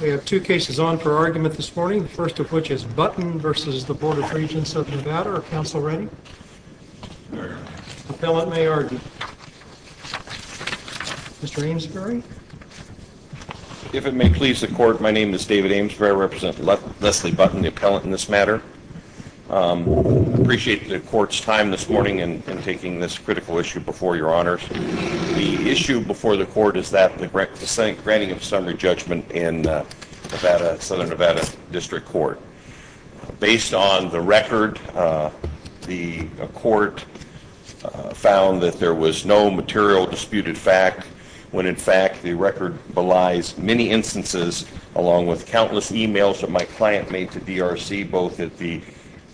We have two cases on for argument this morning, the first of which is Button v. Board of Regents of Nevada. Are counsel ready? Very ready. Appellant may argue. Mr. Amesbury? If it may please the court, my name is David Amesbury. I represent Leslie Button, the appellant in this matter. I appreciate the court's time this morning in taking this critical issue before your honors. The issue before the court is that of the granting of summary judgment in the Southern Nevada District Court. Based on the record, the court found that there was no material disputed fact, when in fact the record belies many instances, along with countless emails that my client made to DRC, both at the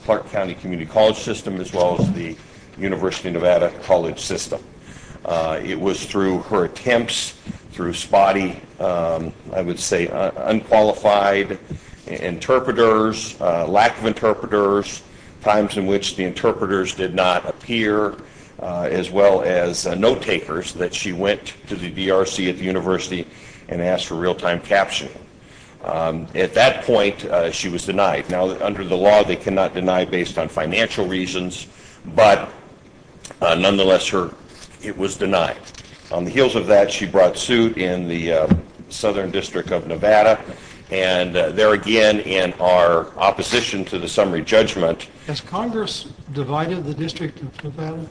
Clark County Community College System as well as the University of Nevada College System. It was through her attempts, through spotty, I would say unqualified interpreters, lack of interpreters, times in which the interpreters did not appear, as well as note takers, that she went to the DRC at the University and asked for real-time captioning. At that point, she was denied. Now, under the law, they cannot deny based on financial reasons, but nonetheless, it was denied. On the heels of that, she brought suit in the Southern District of Nevada, and there again, in our opposition to the summary judgment... Has Congress divided the District of Nevada?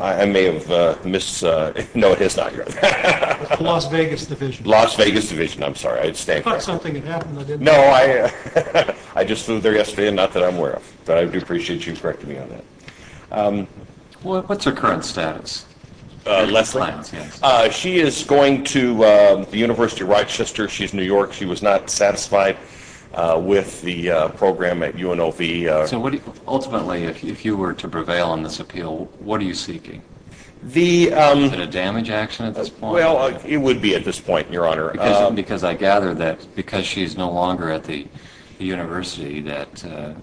I may have mis... No, it has not. The Las Vegas Division. Las Vegas Division, I'm sorry. I thought something had happened. No, I just flew there yesterday, not that I'm aware of, but I do appreciate you correcting me on that. What's her current status? Leslie? She is going to the University of Rochester. She's in New York. She was not satisfied with the program at UNLV. Ultimately, if you were to prevail on this appeal, what are you seeking? Is it a damage action at this point? Well, it would be at this point, Your Honor. Because I gather that because she's no longer at the University, that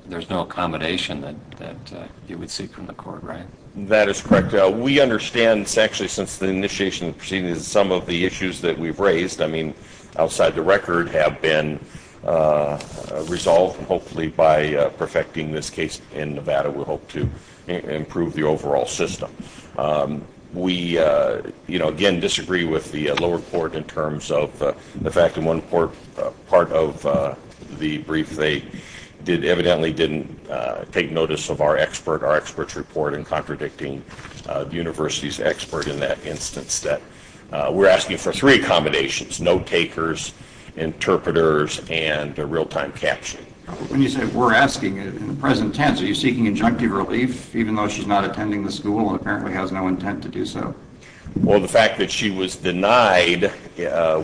there's no accommodation that you would seek from the court, right? That is correct. We understand, actually, since the initiation of the proceedings, some of the issues that we've raised, I mean, outside the record, have been resolved, and hopefully by perfecting this case in Nevada, we hope to improve the overall system. We, again, disagree with the lower court in terms of the fact that one part of the brief they did evidently didn't take notice of our expert, our expert's report, in contradicting the University's expert in that instance. We're asking for three accommodations, no takers, interpreters, and real-time captioning. When you say we're asking, in the present tense, are you seeking injunctive relief, even though she's not attending the school and apparently has no intent to do so? Well, the fact that she was denied,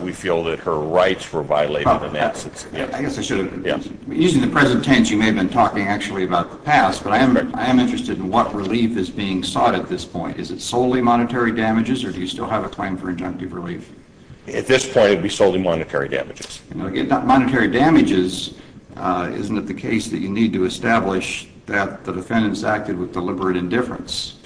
we feel that her rights were violated in that sense. Using the present tense, you may have been talking, actually, about the past, but I am interested in what relief is being sought at this point. Is it solely monetary damages, or do you still have a claim for injunctive relief? At this point, it would be solely monetary damages. Monetary damages, isn't it the case that you need to establish that the defendants acted with deliberate indifference?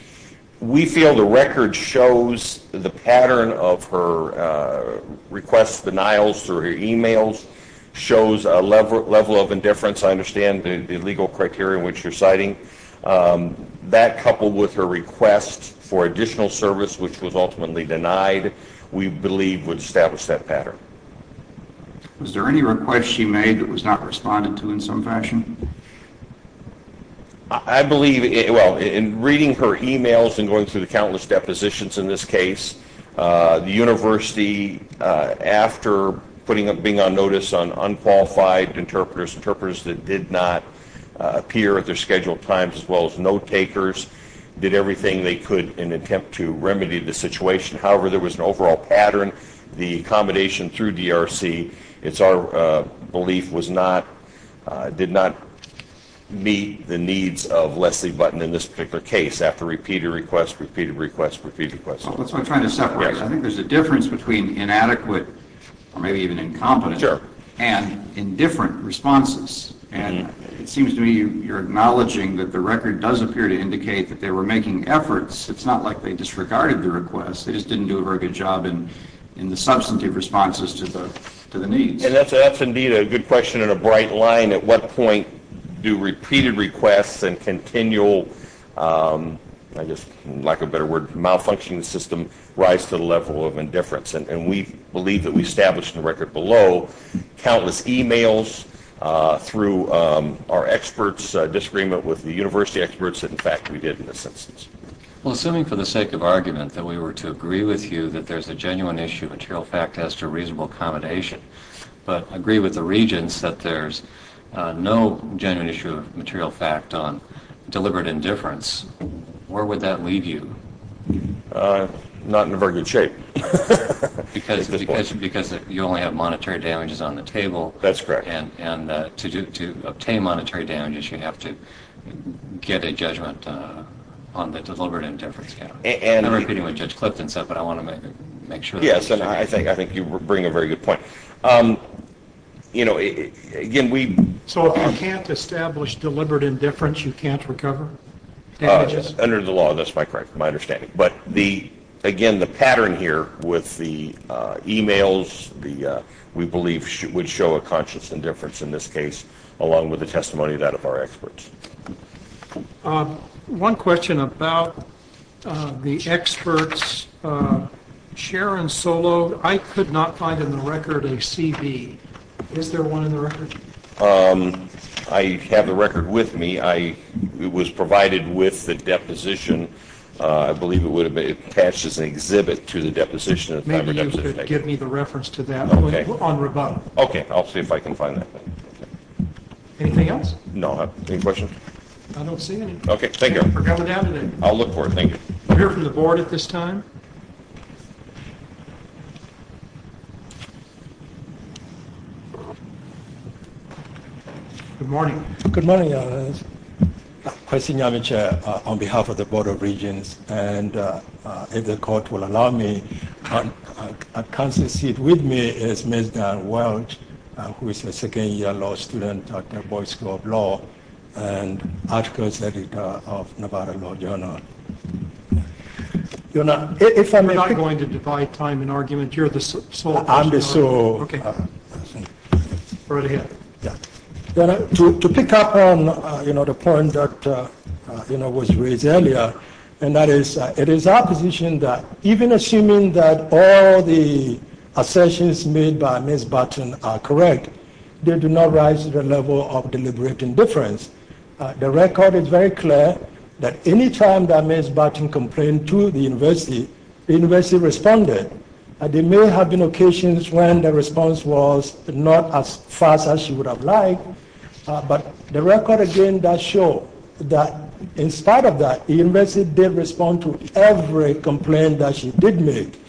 We feel the record shows the pattern of her requests, denials, through her emails, shows a level of indifference. I understand the legal criteria in which you're citing. That, coupled with her request for additional service, which was ultimately denied, we believe would establish that pattern. Was there any request she made that was not responded to in some fashion? I believe, well, in reading her emails and going through the countless depositions in this case, the university, after being on notice on unqualified interpreters, interpreters that did not appear at their scheduled times, as well as note takers, did everything they could in an attempt to remedy the situation. However, there was an overall pattern. The accommodation through DRC, it's our belief, did not meet the needs of Leslie Button in this particular case, after repeated requests, repeated requests, repeated requests. Well, that's what I'm trying to separate. I think there's a difference between inadequate, or maybe even incompetent, and indifferent responses. And it seems to me you're acknowledging that the record does appear to indicate that they were making efforts. It's not like they disregarded the request. They just didn't do a very good job in the substantive responses to the needs. And that's indeed a good question and a bright line. At what point do repeated requests and continual, I guess, lack of a better word, malfunctioning of the system rise to the level of indifference? And we believe that we established in the record below countless emails through our experts' disagreement with the university experts that, in fact, we did in this instance. Well, assuming for the sake of argument that we were to agree with you that there's a genuine issue of material fact as to reasonable accommodation, but agree with the regents that there's no genuine issue of material fact on deliberate indifference, where would that leave you? Not in a very good shape. Because you only have monetary damages on the table. That's correct. And to obtain monetary damages, you have to get a judgment on the deliberate indifference count. And I'm repeating what Judge Clifton said, but I want to make sure... Yes, and I think you bring a very good point. You know, again, we... So if you can't establish deliberate indifference, you can't recover damages? Under the law, that's my understanding. But, again, the pattern here with the emails, we believe, would show a conscious indifference in this case, along with the testimony of that of our experts. One question about the experts. Sharon Solo, I could not find in the record a CV. Is there one in the record? I have the record with me. It was provided with the deposition. I believe it would have been attached as an exhibit to the deposition. Maybe you could give me the reference to that on rebuttal. Okay, I'll see if I can find that. Anything else? No, any questions? I don't see any. Okay, thank you. Thank you for coming down today. I'll look for it, thank you. We'll hear from the Board at this time. Good morning. Good morning, Your Honor. Questions? Question, Your Honor, Chair, on behalf of the Board of Regents. And if the Court will allow me, at Council seat with me is Ms. Dan Welch, who is a second-year law student at the Boyd School of Law and articles editor of Nevada Law Journal. Your Honor, if I may... We're not going to divide time in argument. You're the sole... I'm the sole... Go right ahead. Your Honor, to pick up on the point that was raised earlier, and that is, it is our position that, even assuming that all the assertions made by Ms. Barton are correct, there do not rise to the level of deliberate indifference. The record is very clear that any time that Ms. Barton complained to the University, the University responded. There may have been occasions when the response was not as fast as she would have liked, but the record again does show that, in spite of that, the University did respond to every complaint that she did make.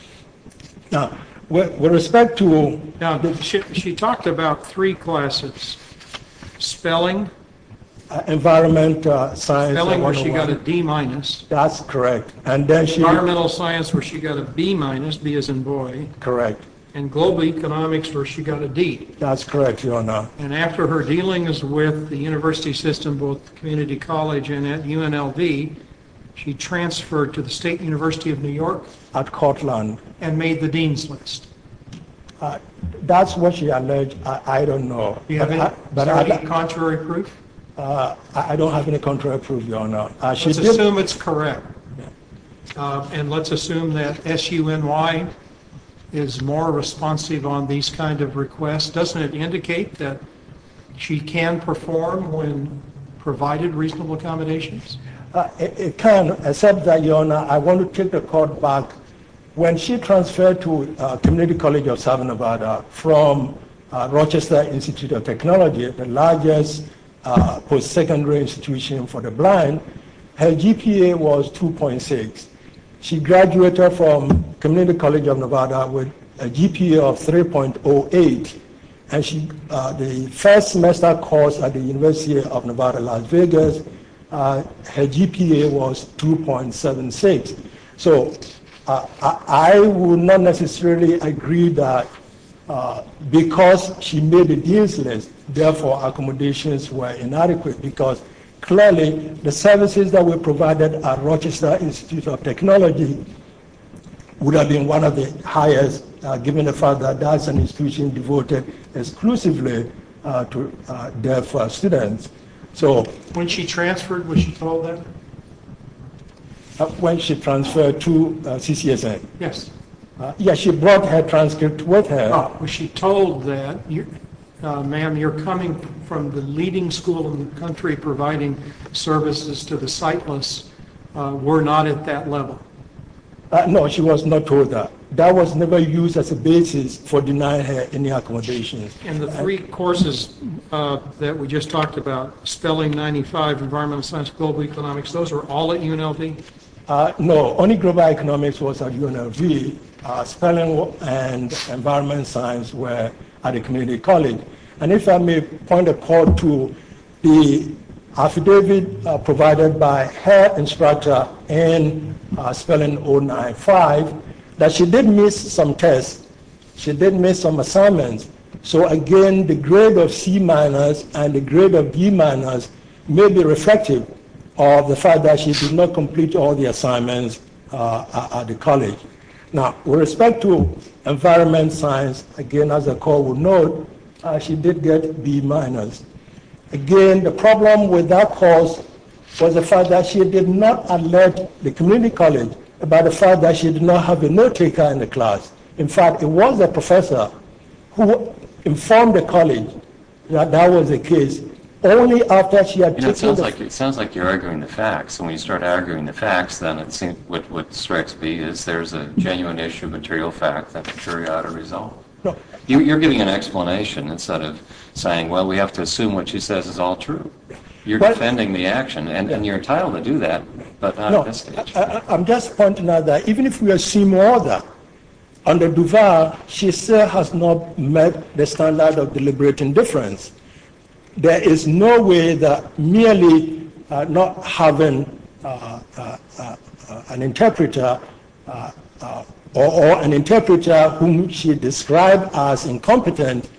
Now, with respect to... She talked about three classes. Spelling... Environmental science... Spelling, where she got a D minus. That's correct. Environmental science, where she got a B minus, B as in boy. Correct. And global economics, where she got a D. That's correct, Your Honor. And after her dealings with the University system, both community college and at UNLV, she transferred to the State University of New York... At Cortland. And made the Dean's List. That's what she alleged. I don't know. Do you have any contrary proof? I don't have any contrary proof, Your Honor. Let's assume it's correct. And let's assume that SUNY is more responsive on these kind of requests. Doesn't it indicate that she can perform when provided reasonable accommodations? It can, except that, Your Honor, I want to take the court back. When she transferred to Community College of Southern Nevada from Rochester Institute of Technology, the largest post-secondary institution for the blind, her GPA was 2.6. She graduated from Community College of Nevada with a GPA of 3.08. And the first semester course at the University of Nevada, Las Vegas, her GPA was 2.76. So, I would not necessarily agree that because she made the Dean's List, therefore accommodations were inadequate. Because, clearly, the services that were provided at Rochester Institute of Technology would have been one of the highest, given the fact that that's an institution devoted exclusively to deaf students. When she transferred, was she told that? When she transferred to CCSA. Yes, she brought her transcript with her. Was she told that, Ma'am, you're coming from the leading school in the country providing services to the sightless. We're not at that level. No, she was not told that. That was never used as a basis for denying her any accommodations. And the three courses that we just talked about, Spelling 95, Environmental Science, Global Economics, those were all at UNLV? No, only Global Economics was at UNLV. Spelling and Environmental Science were at a community college. And if I may point a call to the affidavit provided by her instructor in Spelling 095, that she did miss some tests. She did miss some assignments. So, again, the grade of C- and the grade of B- may be reflective of the fact that she did not complete all the assignments at the college. With respect to Environmental Science, again, as the call will note, she did get B-. Again, the problem with that cause was the fact that she did not alert the community college about the fact that she did not have a note-taker in the class. In fact, it was the professor who informed the college that that was the case only after she had taken the... It sounds like you're arguing the facts. And when you start arguing the facts, then what strikes me is there's a genuine issue of material fact that the jury ought to resolve. You're giving an explanation instead of saying, well, we have to assume what she says is all true. You're defending the action. And you're entitled to do that, but not at this stage. No, I'm just pointing out that even if we assume all that, under Duval, she still has not met the standard of deliberating difference. There is no way that merely not having an interpreter or an interpreter whom she described as incompetent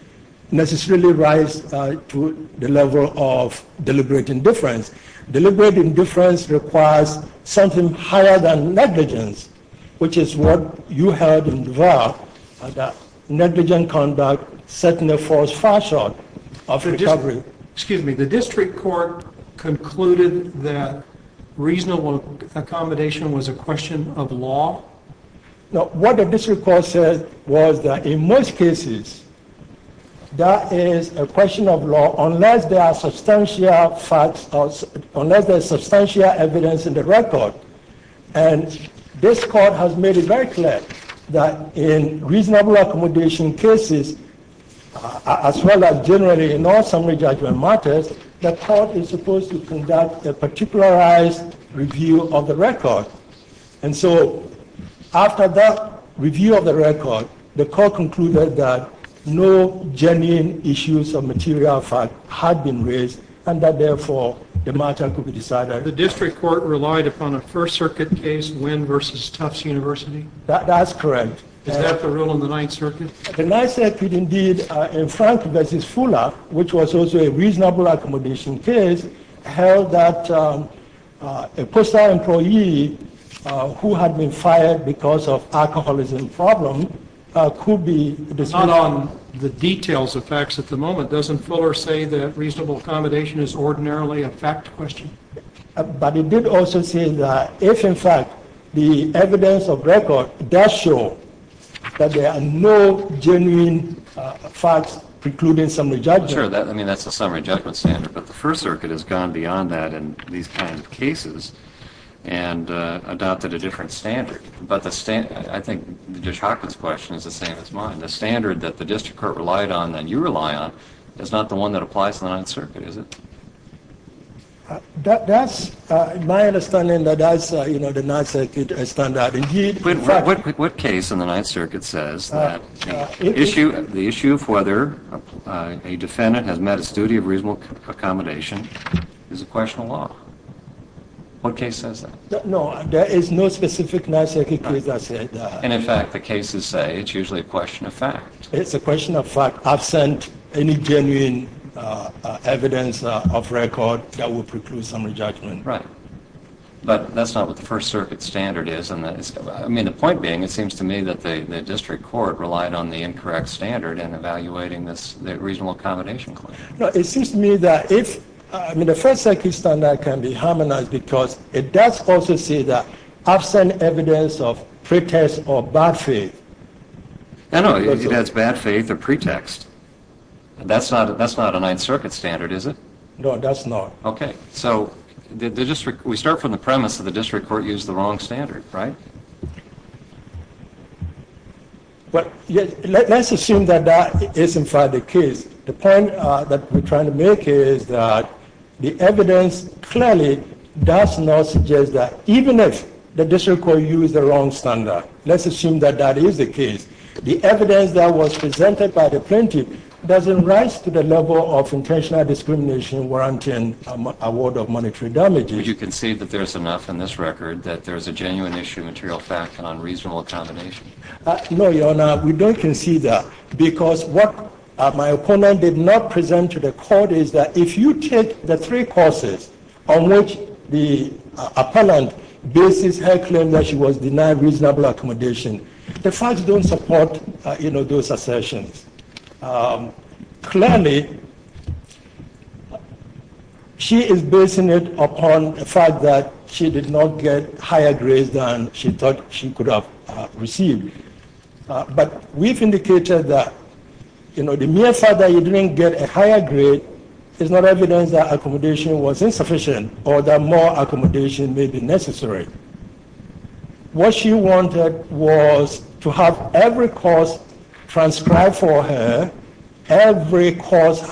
necessarily rises to the level of deliberating difference. Deliberating difference requires something higher than negligence, which is what you held in Duval, that negligent conduct certainly falls far short of recovery. Excuse me. The district court concluded that reasonable accommodation was a question of law. What the district court said was that in most cases, that is a question of law unless there are substantial facts or unless there is substantial evidence in the record. And this court has made it very clear that in reasonable accommodation cases, as well as generally in all summary judgment matters, the court is supposed to conduct a particularized review of the record. And so after that review of the record, the court concluded that no genuine issues of material fact had been raised and that therefore the matter could be decided. The district court relied upon a First Circuit case, Wynn v. Tufts University? That's correct. Is that the rule in the Ninth Circuit? The Ninth Circuit indeed, in Frank v. Fuller, which was also a reasonable accommodation case, held that a postal employee who had been fired because of alcoholism problem could be dismissed. Not on the details of facts at the moment. Doesn't Fuller say that reasonable accommodation is ordinarily a fact question? But he did also say that if in fact the evidence of record does show that there are no genuine issues of material facts precluding summary judgment. Sure, that's a summary judgment standard, but the First Circuit has gone beyond that in these kinds of cases and adopted a different standard. But I think Judge Hockman's question is the same as mine. The standard that the district court relied on and you rely on is not the one that the district court relied on. The question is whether a defendant has met his duty of reasonable accommodation is a question of law. What case says that? No, there is no specific Ninth Circuit case that says that. And in fact the cases say it's usually a question of fact. It's a question of fact absent any genuine evidence of record that would preclude summary judgment. Right. But that's not what the First Circuit standard is. I mean, the point being, it seems to me that the district court relied on the incorrect standard in evaluating this reasonable accommodation claim. No, it seems to me that if, I mean, the First Circuit standard can be harmonized because it does also say that absent evidence of pretext or bad faith. No, no, it has bad faith or pretext. That's not a Ninth Circuit standard, is it? No, that's not. Okay, so we start from the premise that the district court used the wrong standard, right? Well, let's assume that that is in fact the case. The point that we're trying to make is that the evidence clearly does not suggest that even if the district court used the wrong standard, let's assume that that is the case, the evidence that was presented by the plaintiff doesn't rise to the level of intentional discrimination warranting award of monetary damages. But you concede that there's enough in this record that there's a genuine issue of material fact and unreasonable accommodation? No, Your Honor, we don't concede that because what my opponent did not present to the court is that if you take the three causes on which the appellant bases her claim that she was denied reasonable accommodation, the facts don't support, you know, those assertions. Clearly, she is basing it upon the fact that she did not get higher grades than she thought she could have received. But we've indicated that, you know, the mere fact that you didn't get a higher grade is not evidence that accommodation was insufficient or that more accommodation may be necessary. What she wanted was to have every cause transcribed for her, every cause that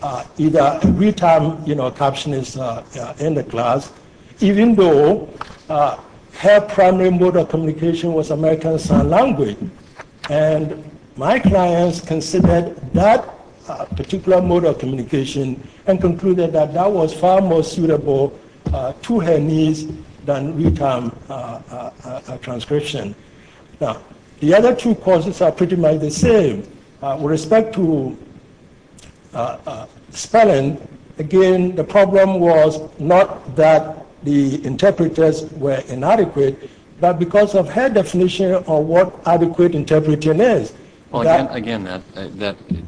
had either retime captioning in the class, even though her primary mode of communication was American Sign Language. And my clients considered that particular mode of communication and that was far more suitable to her needs than retime transcription. Now, the other two causes are pretty much the same with respect to her primary spelling. Again, the problem was not that the interpreters were inadequate, but because of her definition of what adequate interpretation is. Well, again,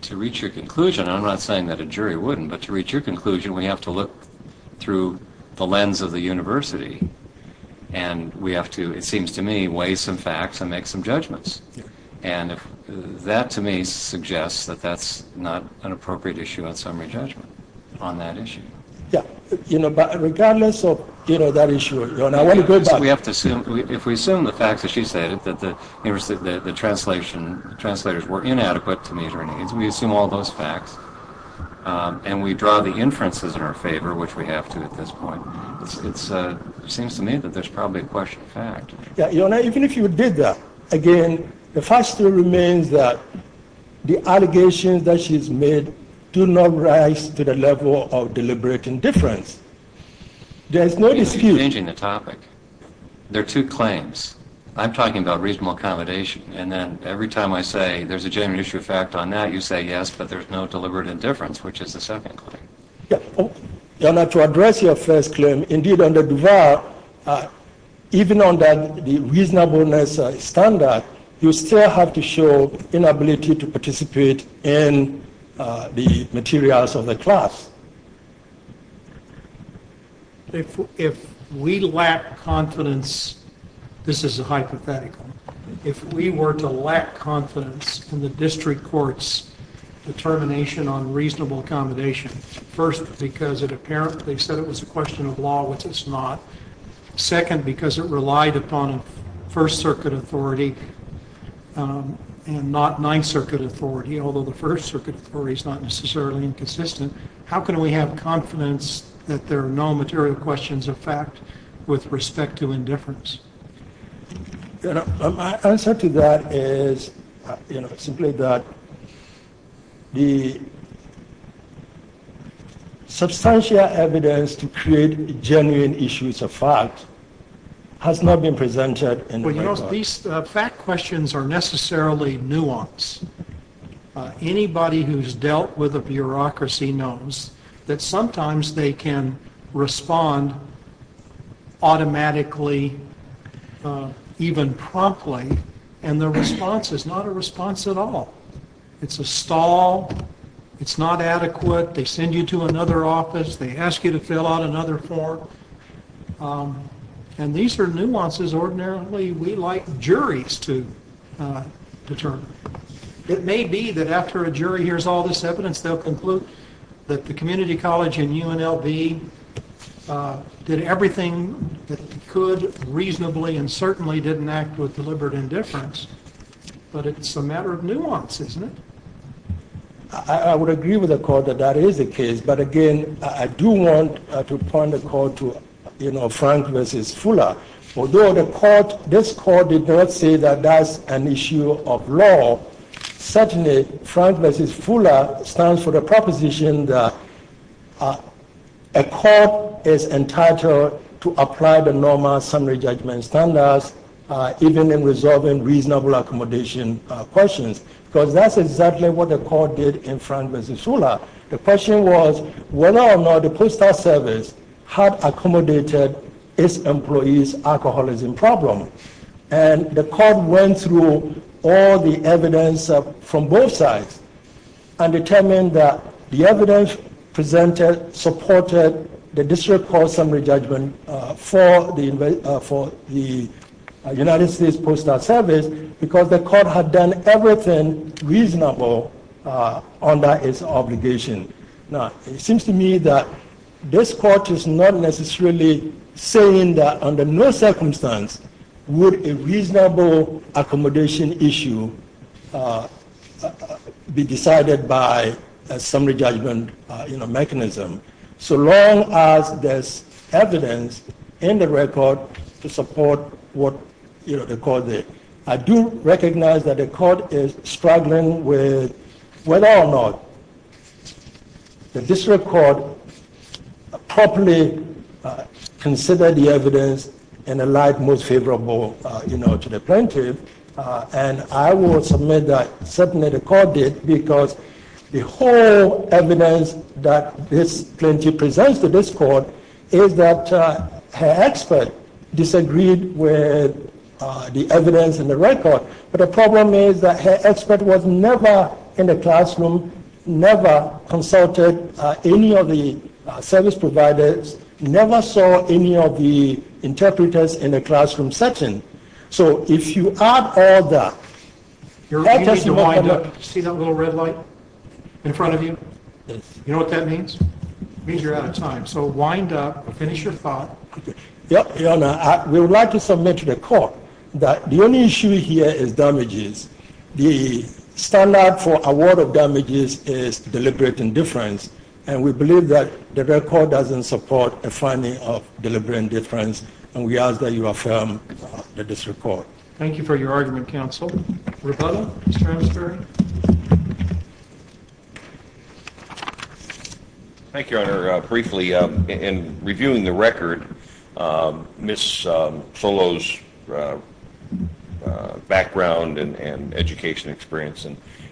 to reach your conclusion, and I'm not saying that a jury wouldn't, but to reach your conclusion, we have to look through the lens of the university, and we have to, it seems to me, weigh some facts and make some judgments. And that, to me, suggests that that's not an appropriate issue on summary judgment on that issue. Yeah, but regardless of that issue, we have to assume, if we assume the facts that she stated, that the translators were inadequate to meet her needs, we assume all those facts, and we draw the inferences in her favor, which we have to at this point. It seems to me that there's probably a question of fact. Yeah, even if you did that, again, the fact still remains that the allegations that she's made do not rise to the level of deliberate indifference. There's no dispute. You're changing the topic. There are two claims. I'm talking about reasonable accommodation, and then every time I say there's a genuine issue of fact on that, you say yes, but there's no deliberate indifference, which is the second claim. To address your first claim, even under the reasonableness standard, you still have to show inability to participate in the materials of the class. If we lack confidence, this is a hypothetical, if we were to lack confidence in the district court's determination on reasonable accommodation, first because it apparently said it was a question of law, which it's not, second because it relied upon a First Circuit authority and not Ninth Circuit authority, although the First Circuit authority is not necessarily inconsistent, how can we have confidence that there are no material questions of fact with respect to indifference? My answer to that is simply that the substantial evidence to create genuine issues of fact has not been presented in the record. These fact questions are necessarily nuanced. Anybody who's dealt with a bureaucracy knows that sometimes they can respond automatically, even promptly, and the response is not a response at all. It's a stall. It's not adequate. They send you to another office. They ask you to fill out another form. And these are nuances ordinarily we like juries to determine. It may be that after a jury hears all this evidence, they'll conclude that the community college and UNLV did everything reasonably and certainly didn't act with deliberate indifference, but it's a matter of nuance, isn't it? I would agree with the court. This court did not say that that's an issue of law. Certainly, Frank v. Fula stands for the proposition that a court is entitled to apply the normal summary judgment standards, even in resolving reasonable accommodation questions, because that's exactly what the court did in this case. The court went through all the evidence from both sides and determined that the evidence presented supported the district court summary judgment for the United States Postal Service because the court had done everything reasonable under its obligation. Now, it seems to me that this court is not necessarily saying that under no circumstance would a reasonable accommodation issue be decided by a summary judgment mechanism, so long as there's evidence in the record to support what the court did. I do recognize that the court is struggling with whether or not the district court properly considered the evidence in a light most favorable to the plaintiff, and I will submit that certainly the court did because the whole evidence that this plaintiff presents to this court is that her expert disagreed with the evidence in the record, but the problem is that her expert was never in the classroom, never consulted any of the service providers, never saw any of the interpreters in the classroom, consulted any of the interpreters in the classroom. And I would like to submit that the only issue here is damages. The standard for award of damages is deliberate indifference, and we believe that the record doesn't support a finding of deliberate indifference, and we ask that affirm this report. Thank you for your argument, counsel. Thank you, Your Honor. Briefly, in reviewing the record, Ms. Solo's background and education experience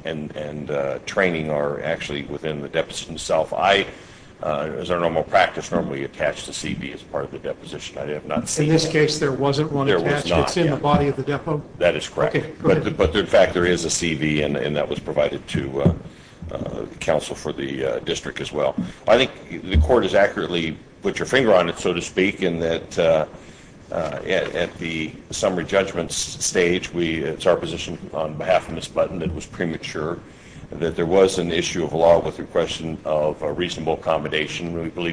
and training are actually within the deposition itself. I, as our normal practice, normally attach the CV as part of the deposition. I have not seen it. In this case, there wasn't one attached. It's in the body of the record. I believe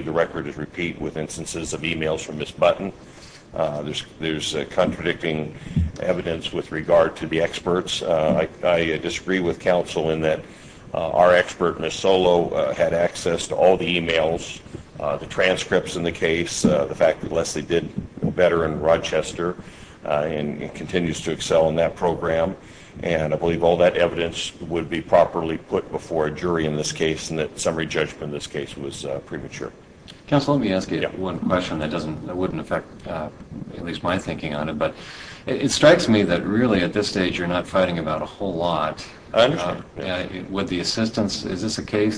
the record is repeat with instances of e-mails from Ms. Button. I disagree with counsel in that our expert, Ms. Solo, had access to all the e-mails, the transcripts in the case, and the transcripts in the case. I believe all the evidence would be properly put before a jury in this case. Summary judgment in this case was premature. It strikes me that you're not fighting about a whole lot. Is this a case that would be